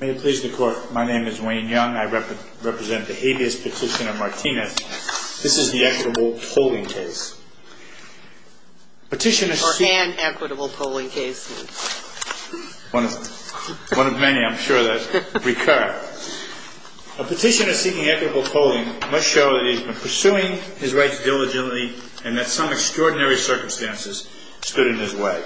May it please the court, my name is Wayne Young. I represent the habeas petition of Martinez. This is the equitable polling case. Or an equitable polling case. One of many, I'm sure, that recur. A petitioner seeking equitable polling must show that he has been pursuing his rights diligently and that some extraordinary circumstances stood in his way.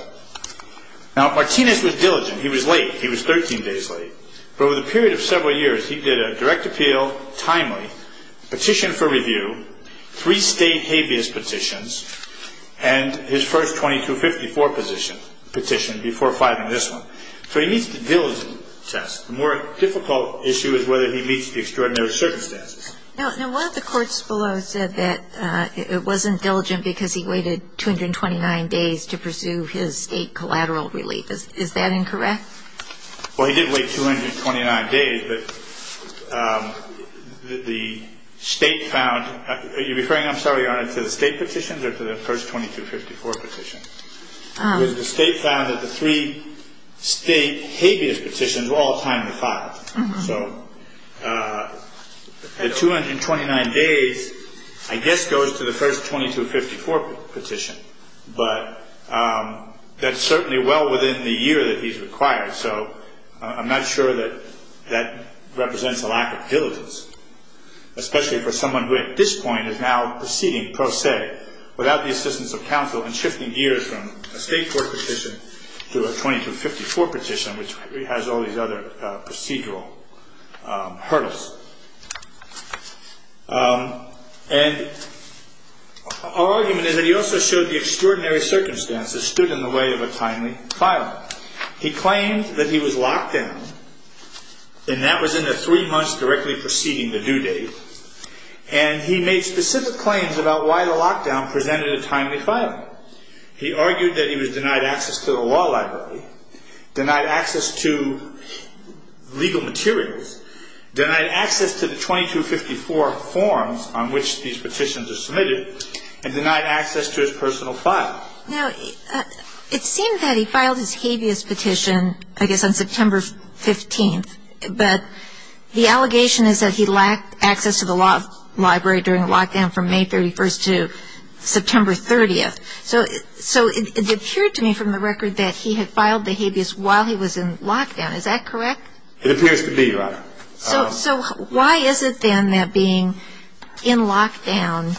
Now, Martinez was diligent. He was late. He was 13 days late. But over the period of several years, he did a direct appeal, timely, petition for review, three state habeas petitions, and his first 2254 petition before filing this one. So he meets the diligent test. The more difficult issue is whether he meets the extraordinary circumstances. Now, one of the courts below said that it wasn't diligent because he waited 229 days to pursue his state collateral relief. Is that incorrect? Well, he did wait 229 days, but the state found, are you referring, I'm sorry, Your Honor, to the state petitions or to the first 2254 petition? The state found that the three state habeas petitions were all timely filed. So the 229 days, I guess, goes to the first 2254 petition. But that's certainly well within the year that he's required, so I'm not sure that that represents a lack of diligence, especially for someone who at this point is now proceeding pro se without the assistance of counsel and shifting gears from a state court petition to a 2254 petition, which has all these other procedural hurdles. And our argument is that he also showed the extraordinary circumstances stood in the way of a timely filing. He claimed that he was locked down, and that was in the three months directly preceding the due date, and he made specific claims about why the lockdown presented a timely filing. He argued that he was denied access to the law library, denied access to legal materials, denied access to the 2254 forms on which these petitions are submitted, and denied access to his personal file. Now, it seemed that he filed his habeas petition, I guess, on September 15th, but the allegation is that he lacked access to the law library during lockdown from May 31st to September 30th. So it appeared to me from the record that he had filed the habeas while he was in lockdown. Is that correct? It appears to be, Your Honor. So why is it then that being in lockdown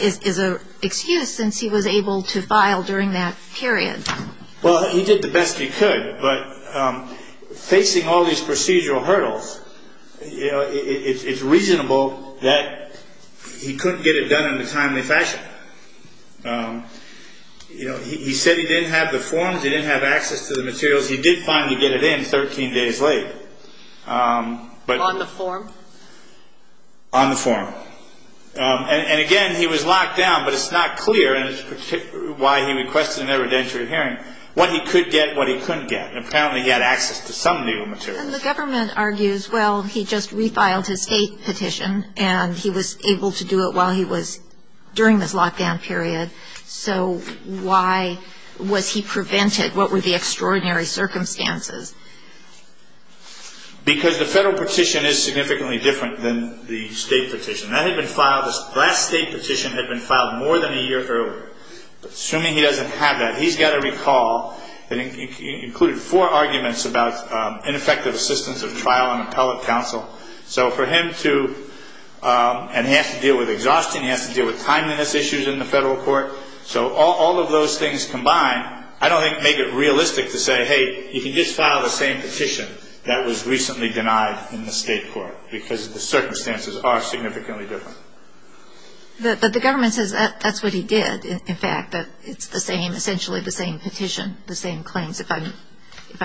is an excuse since he was able to file during that period? Well, he did the best he could, but facing all these procedural hurdles, it's reasonable that he couldn't get it done in a timely fashion. You know, he said he didn't have the forms, he didn't have access to the materials. He did finally get it in 13 days late. On the form? On the form. And again, he was locked down, but it's not clear, and it's why he requested an evidentiary hearing, what he could get and what he couldn't get. Apparently, he had access to some legal materials. And the government argues, well, he just refiled his state petition, and he was able to do it while he was during this lockdown period. So why was he prevented? What were the extraordinary circumstances? Because the federal petition is significantly different than the state petition. That had been filed, the last state petition had been filed more than a year earlier. Assuming he doesn't have that, he's got to recall that it included four arguments about ineffective assistance of trial and appellate counsel. So for him to, and he has to deal with exhaustion, he has to deal with timeliness issues in the federal court. So all of those things combined, I don't think make it realistic to say, hey, you can just file the same petition that was recently denied in the state court, because the circumstances are significantly different. But the government says that's what he did, in fact, that it's the same, essentially the same petition, the same claims, if I'm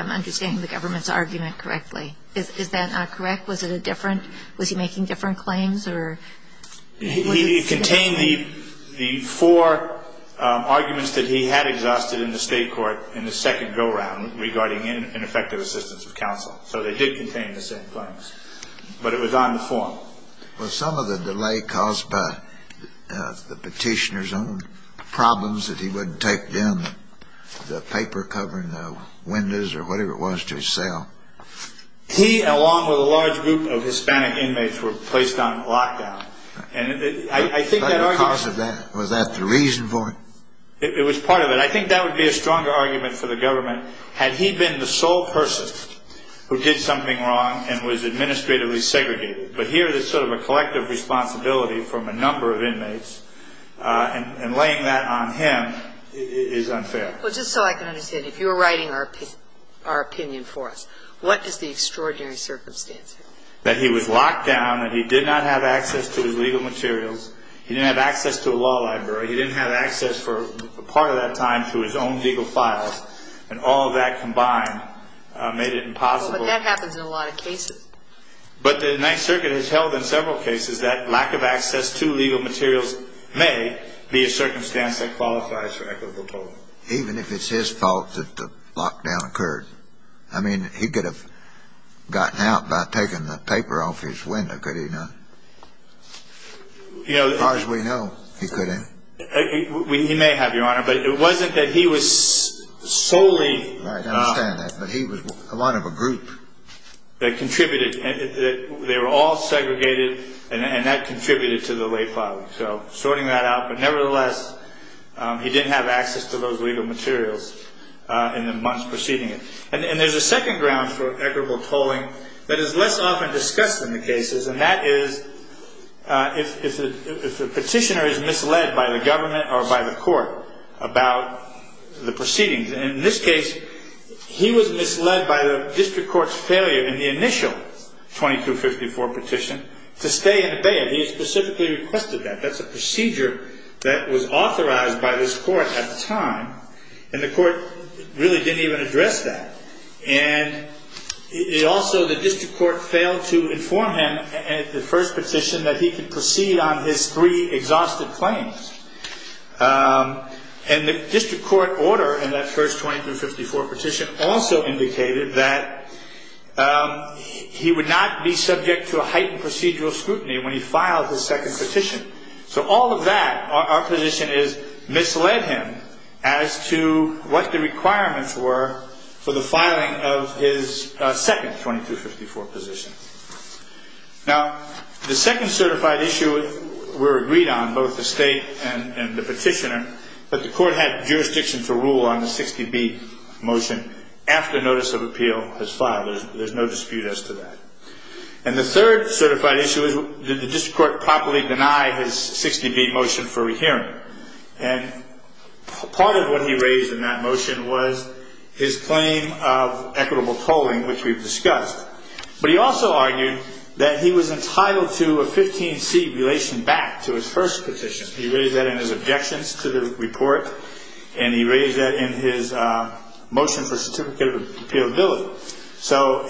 understanding the government's argument correctly. Is that not correct? Was it a different, was he making different claims or? He contained the four arguments that he had exhausted in the state court in the second go-round regarding ineffective assistance of counsel. So they did contain the same claims. But it was on the form. Was some of the delay caused by the petitioner's own problems that he wouldn't take them, the paper covering the windows or whatever it was to his cell? He, along with a large group of Hispanic inmates, were placed on lockdown. And I think that argument. Was that the reason for it? It was part of it. I think that would be a stronger argument for the government. Had he been the sole person who did something wrong and was administratively segregated, but here there's sort of a collective responsibility from a number of inmates, and laying that on him is unfair. Well, just so I can understand, if you were writing our opinion for us, what is the extraordinary circumstance here? That he was locked down and he did not have access to his legal materials. He didn't have access to a law library. He didn't have access for part of that time to his own legal files. And all of that combined made it impossible. But that happens in a lot of cases. But the Ninth Circuit has held in several cases that lack of access to legal materials may be a circumstance that qualifies for equitable polling. Even if it's his fault that the lockdown occurred? I mean, he could have gotten out by taking the paper off his window, could he not? As far as we know, he couldn't. He may have, Your Honor, but it wasn't that he was solely... I understand that, but he was a lot of a group. They were all segregated, and that contributed to the late filing. So sorting that out. But nevertheless, he didn't have access to those legal materials in the months preceding it. And there's a second ground for equitable polling that is less often discussed in the cases, and that is if the petitioner is misled by the government or by the court about the proceedings. And in this case, he was misled by the district court's failure in the initial 2254 petition to stay and obey it. He specifically requested that. That's a procedure that was authorized by this court at the time, and the court really didn't even address that. And also, the district court failed to inform him at the first petition that he could proceed on his three exhausted claims. And the district court order in that first 2254 petition also indicated that he would not be subject to a heightened procedural scrutiny when he filed his second petition. So all of that, our position is, misled him as to what the requirements were for the filing of his second 2254 petition. Now, the second certified issue we're agreed on, both the state and the petitioner, but the court had jurisdiction to rule on the 60B motion after notice of appeal has filed. There's no dispute as to that. And the third certified issue is did the district court properly deny his 60B motion for rehearing. And part of what he raised in that motion was his claim of equitable polling, which we've discussed. But he also argued that he was entitled to a 15C relation back to his first petition. He raised that in his objections to the report, and he raised that in his motion for certificate of appealability.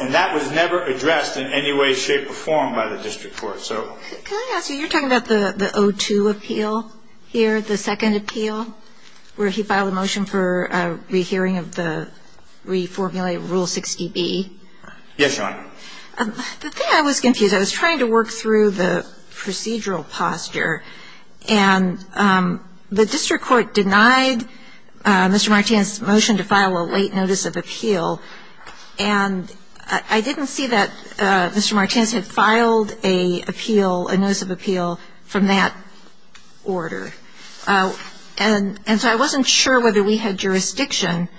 And that was never addressed in any way, shape, or form by the district court. Can I ask you, you're talking about the 02 appeal here, the second appeal, where he filed a motion for a rehearing of the reformulated Rule 60B? Yes, Your Honor. The thing I was confused. I was trying to work through the procedural posture. And the district court denied Mr. Martinez's motion to file a late notice of appeal. And I didn't see that Mr. Martinez had filed a appeal, a notice of appeal from that order. And so I wasn't sure whether we had jurisdiction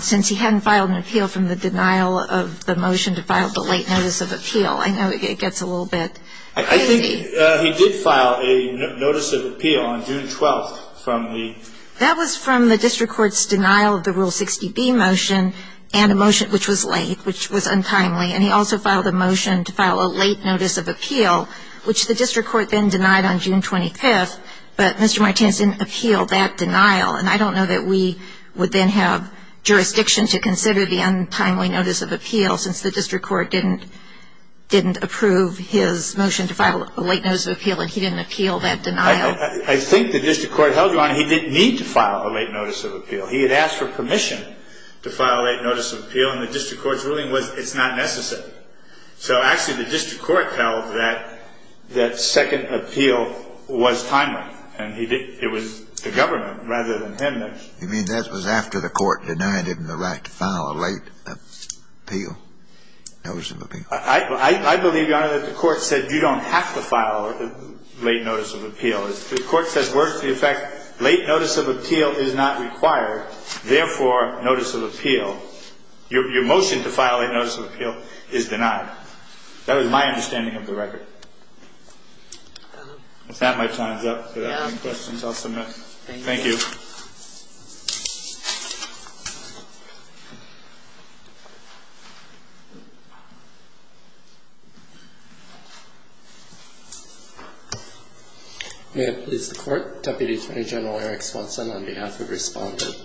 since he hadn't filed an appeal from the denial of the motion to file the late notice of appeal. I know it gets a little bit crazy. I think he did file a notice of appeal on June 12th from the ‑‑ That was from the district court's denial of the Rule 60B motion and a motion which was late, which was untimely. And he also filed a motion to file a late notice of appeal, which the district court then denied on June 25th. But Mr. Martinez didn't appeal that denial. And I don't know that we would then have jurisdiction to consider the untimely notice of appeal, since the district court didn't approve his motion to file a late notice of appeal, and he didn't appeal that denial. I think the district court held, Your Honor, he didn't need to file a late notice of appeal. He had asked for permission to file a late notice of appeal, and the district court's ruling was it's not necessary. So, actually, the district court held that second appeal was timely, and it was the government rather than him that ‑‑ You mean that was after the court denied him the right to file a late appeal, notice of appeal? I believe, Your Honor, that the court said you don't have to file a late notice of appeal. The court says, worth the effect, late notice of appeal is not required, therefore, notice of appeal. Your motion to file a notice of appeal is denied. That was my understanding of the record. With that, my time is up. Do I have any questions? I'll submit. Thank you. May it please the court, Deputy Attorney General Eric Swanson on behalf of Respondent.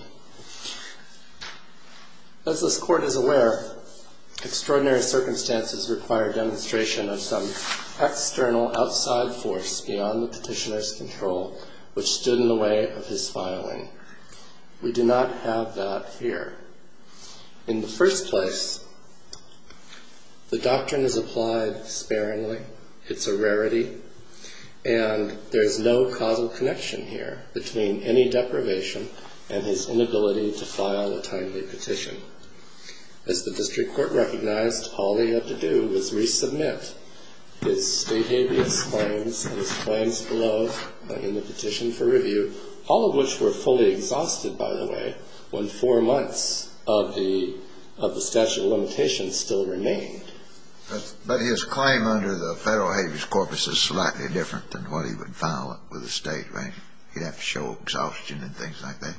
As this court is aware, extraordinary circumstances require demonstration of some external, outside force beyond the petitioner's control, which stood in the way of his filing. We do not have that here. In the first place, the doctrine is applied sparingly. It's a rarity. And there's no causal connection here between any deprivation and his inability to file a timely petition. As the district court recognized, all they had to do was resubmit his state habeas claims and his claims below in the petition for review, all of which were fully exhausted, by the way, when four months of the statute of limitations still remained. But his claim under the federal habeas corpus is slightly different than what he would file with the state, right? He'd have to show exhaustion and things like that.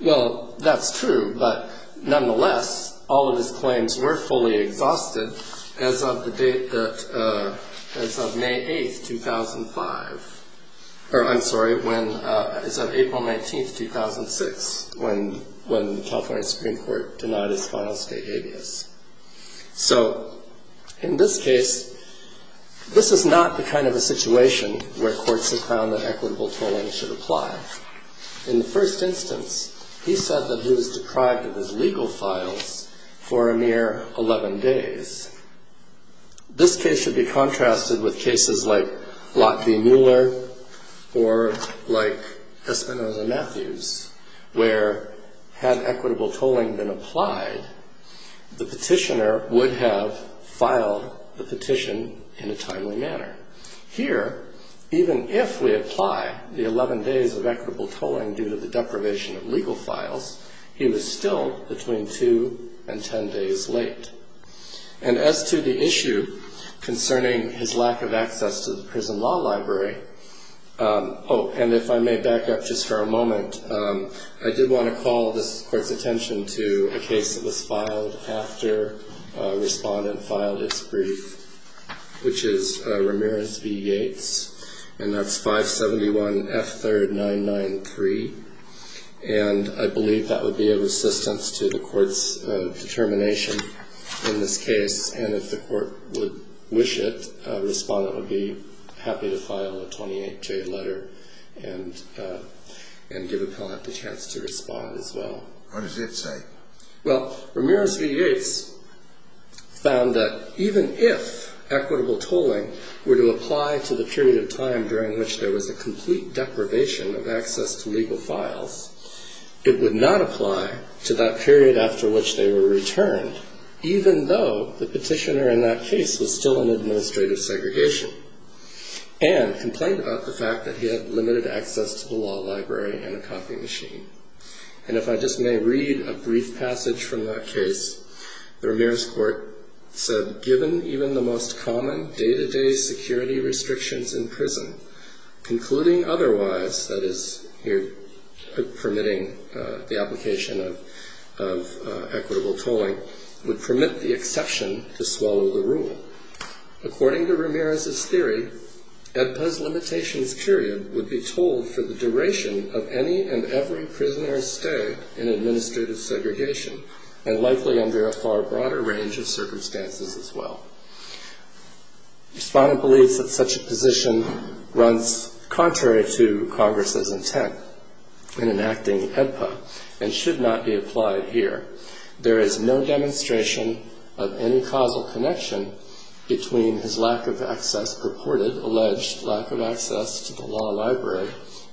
Well, that's true, but nonetheless, all of his claims were fully exhausted as of May 8, 2005. Or I'm sorry, as of April 19, 2006, when the California Supreme Court denied his final state habeas. So in this case, this is not the kind of a situation where courts have found that equitable tolling should apply. In the first instance, he said that he was deprived of his legal files for a mere 11 days. This case should be contrasted with cases like Lott v. Mueller or like Espinoza-Matthews, where had equitable tolling been applied, the petitioner would have filed the petition in a timely manner. Here, even if we apply the 11 days of equitable tolling due to the deprivation of legal files, he was still between 2 and 10 days late. And as to the issue concerning his lack of access to the prison law library, oh, and if I may back up just for a moment, I did want to call this court's attention to a case that was filed after a respondent filed its brief, which is Ramirez v. Yates, and that's 571 F. 3rd 993. And I believe that would be a resistance to the court's determination in this case. And if the court would wish it, a respondent would be happy to file a 28-J letter and give appellant the chance to respond as well. What does it say? Well, Ramirez v. Yates found that even if equitable tolling were to apply to the period of time during which there was a complete deprivation of access to legal files, it would not apply to that period after which they were returned, even though the petitioner in that case was still in administrative segregation, and complained about the fact that he had limited access to the law library and a copy machine. And if I just may read a brief passage from that case, the Ramirez court said, given even the most common day-to-day security restrictions in prison, concluding otherwise, that is, permitting the application of equitable tolling, would permit the exception to swallow the rule. According to Ramirez's theory, EDPA's limitations period would be told for the duration of any and every prisoner's stay in administrative segregation, and likely under a far broader range of circumstances as well. Respondent believes that such a position runs contrary to Congress's intent in enacting EDPA, and should not be applied here. There is no demonstration of any causal connection between his lack of access, alleged lack of access to the law library,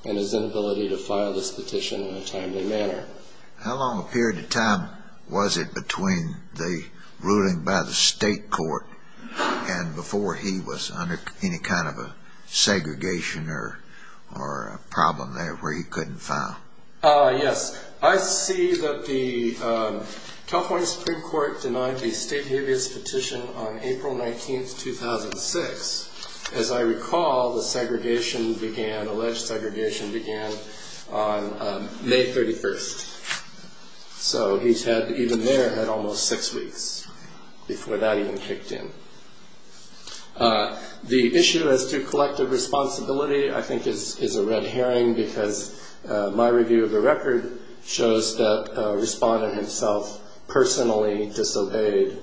and his inability to file this petition in a timely manner. How long a period of time was it between the ruling by the state court, and before he was under any kind of a segregation or a problem there where he couldn't file? Yes, I see that the California Supreme Court denied the state habeas petition on April 19th, 2006. As I recall, the segregation began, alleged segregation began on May 31st. So he's had, even there, had almost six weeks before that even kicked in. The issue as to collective responsibility, I think, is a red herring, because my review of the record shows that a respondent himself personally disobeyed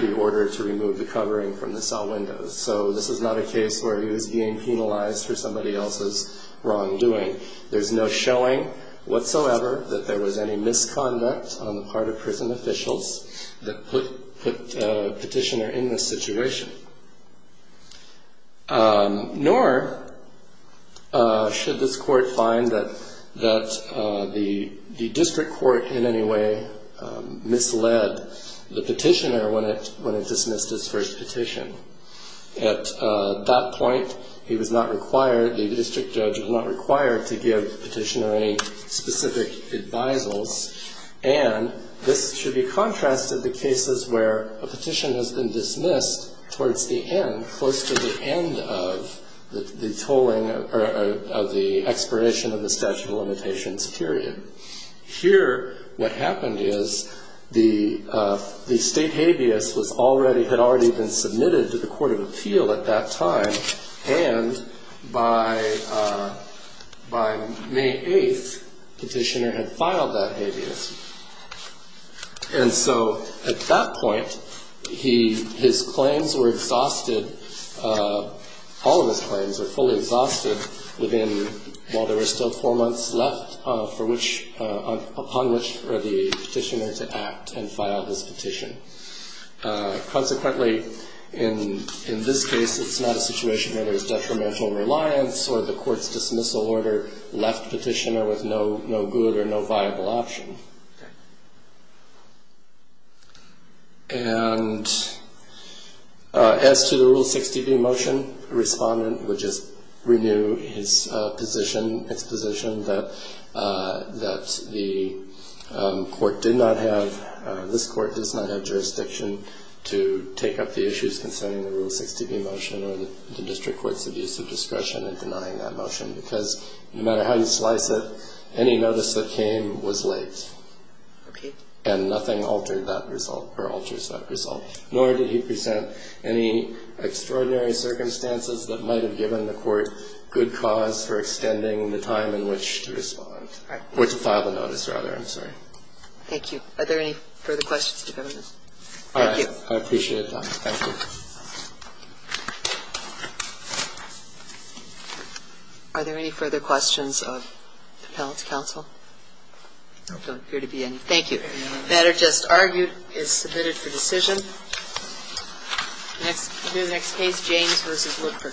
the order to remove the covering from the cell windows. So this is not a case where he was being penalized for somebody else's wrongdoing. There's no showing whatsoever that there was any misconduct on the part of prison officials that put the petitioner in this situation. Nor should this court find that the district court in any way misled the petitioner when it dismissed his first petition. At that point, he was not required, the district judge was not required to give petitioner any specific advisals. And this should be contrasted to cases where a petition has been dismissed towards the end, close to the end of the tolling or the expiration of the statute of limitations period. Here, what happened is the state habeas had already been submitted to the court of appeal at that time. And by May 8th, petitioner had filed that habeas. And so at that point, his claims were exhausted, all of his claims were fully exhausted, while there were still four months left upon which for the petitioner to act and file his petition. Consequently, in this case, it's not a situation where there's detrimental reliance or the court's dismissal order left petitioner with no good or no viable option. And as to the Rule 6db motion, respondent would just renew his position, its position that the court did not have, this court does not have jurisdiction to take up the issues concerning the Rule 6db motion or the district court's abuse of discretion in denying that motion. Because no matter how you slice it, any notice that came was late. Okay. And nothing altered that result or alters that result, nor did he present any extraordinary circumstances that might have given the court good cause for extending the time in which to respond, or to file the notice, rather. I'm sorry. Thank you. Are there any further questions? Thank you. I appreciate it, Donna. Thank you. Are there any further questions of the panel to counsel? There don't appear to be any. Thank you. The matter just argued is submitted for decision. The next case, James v. Woodford.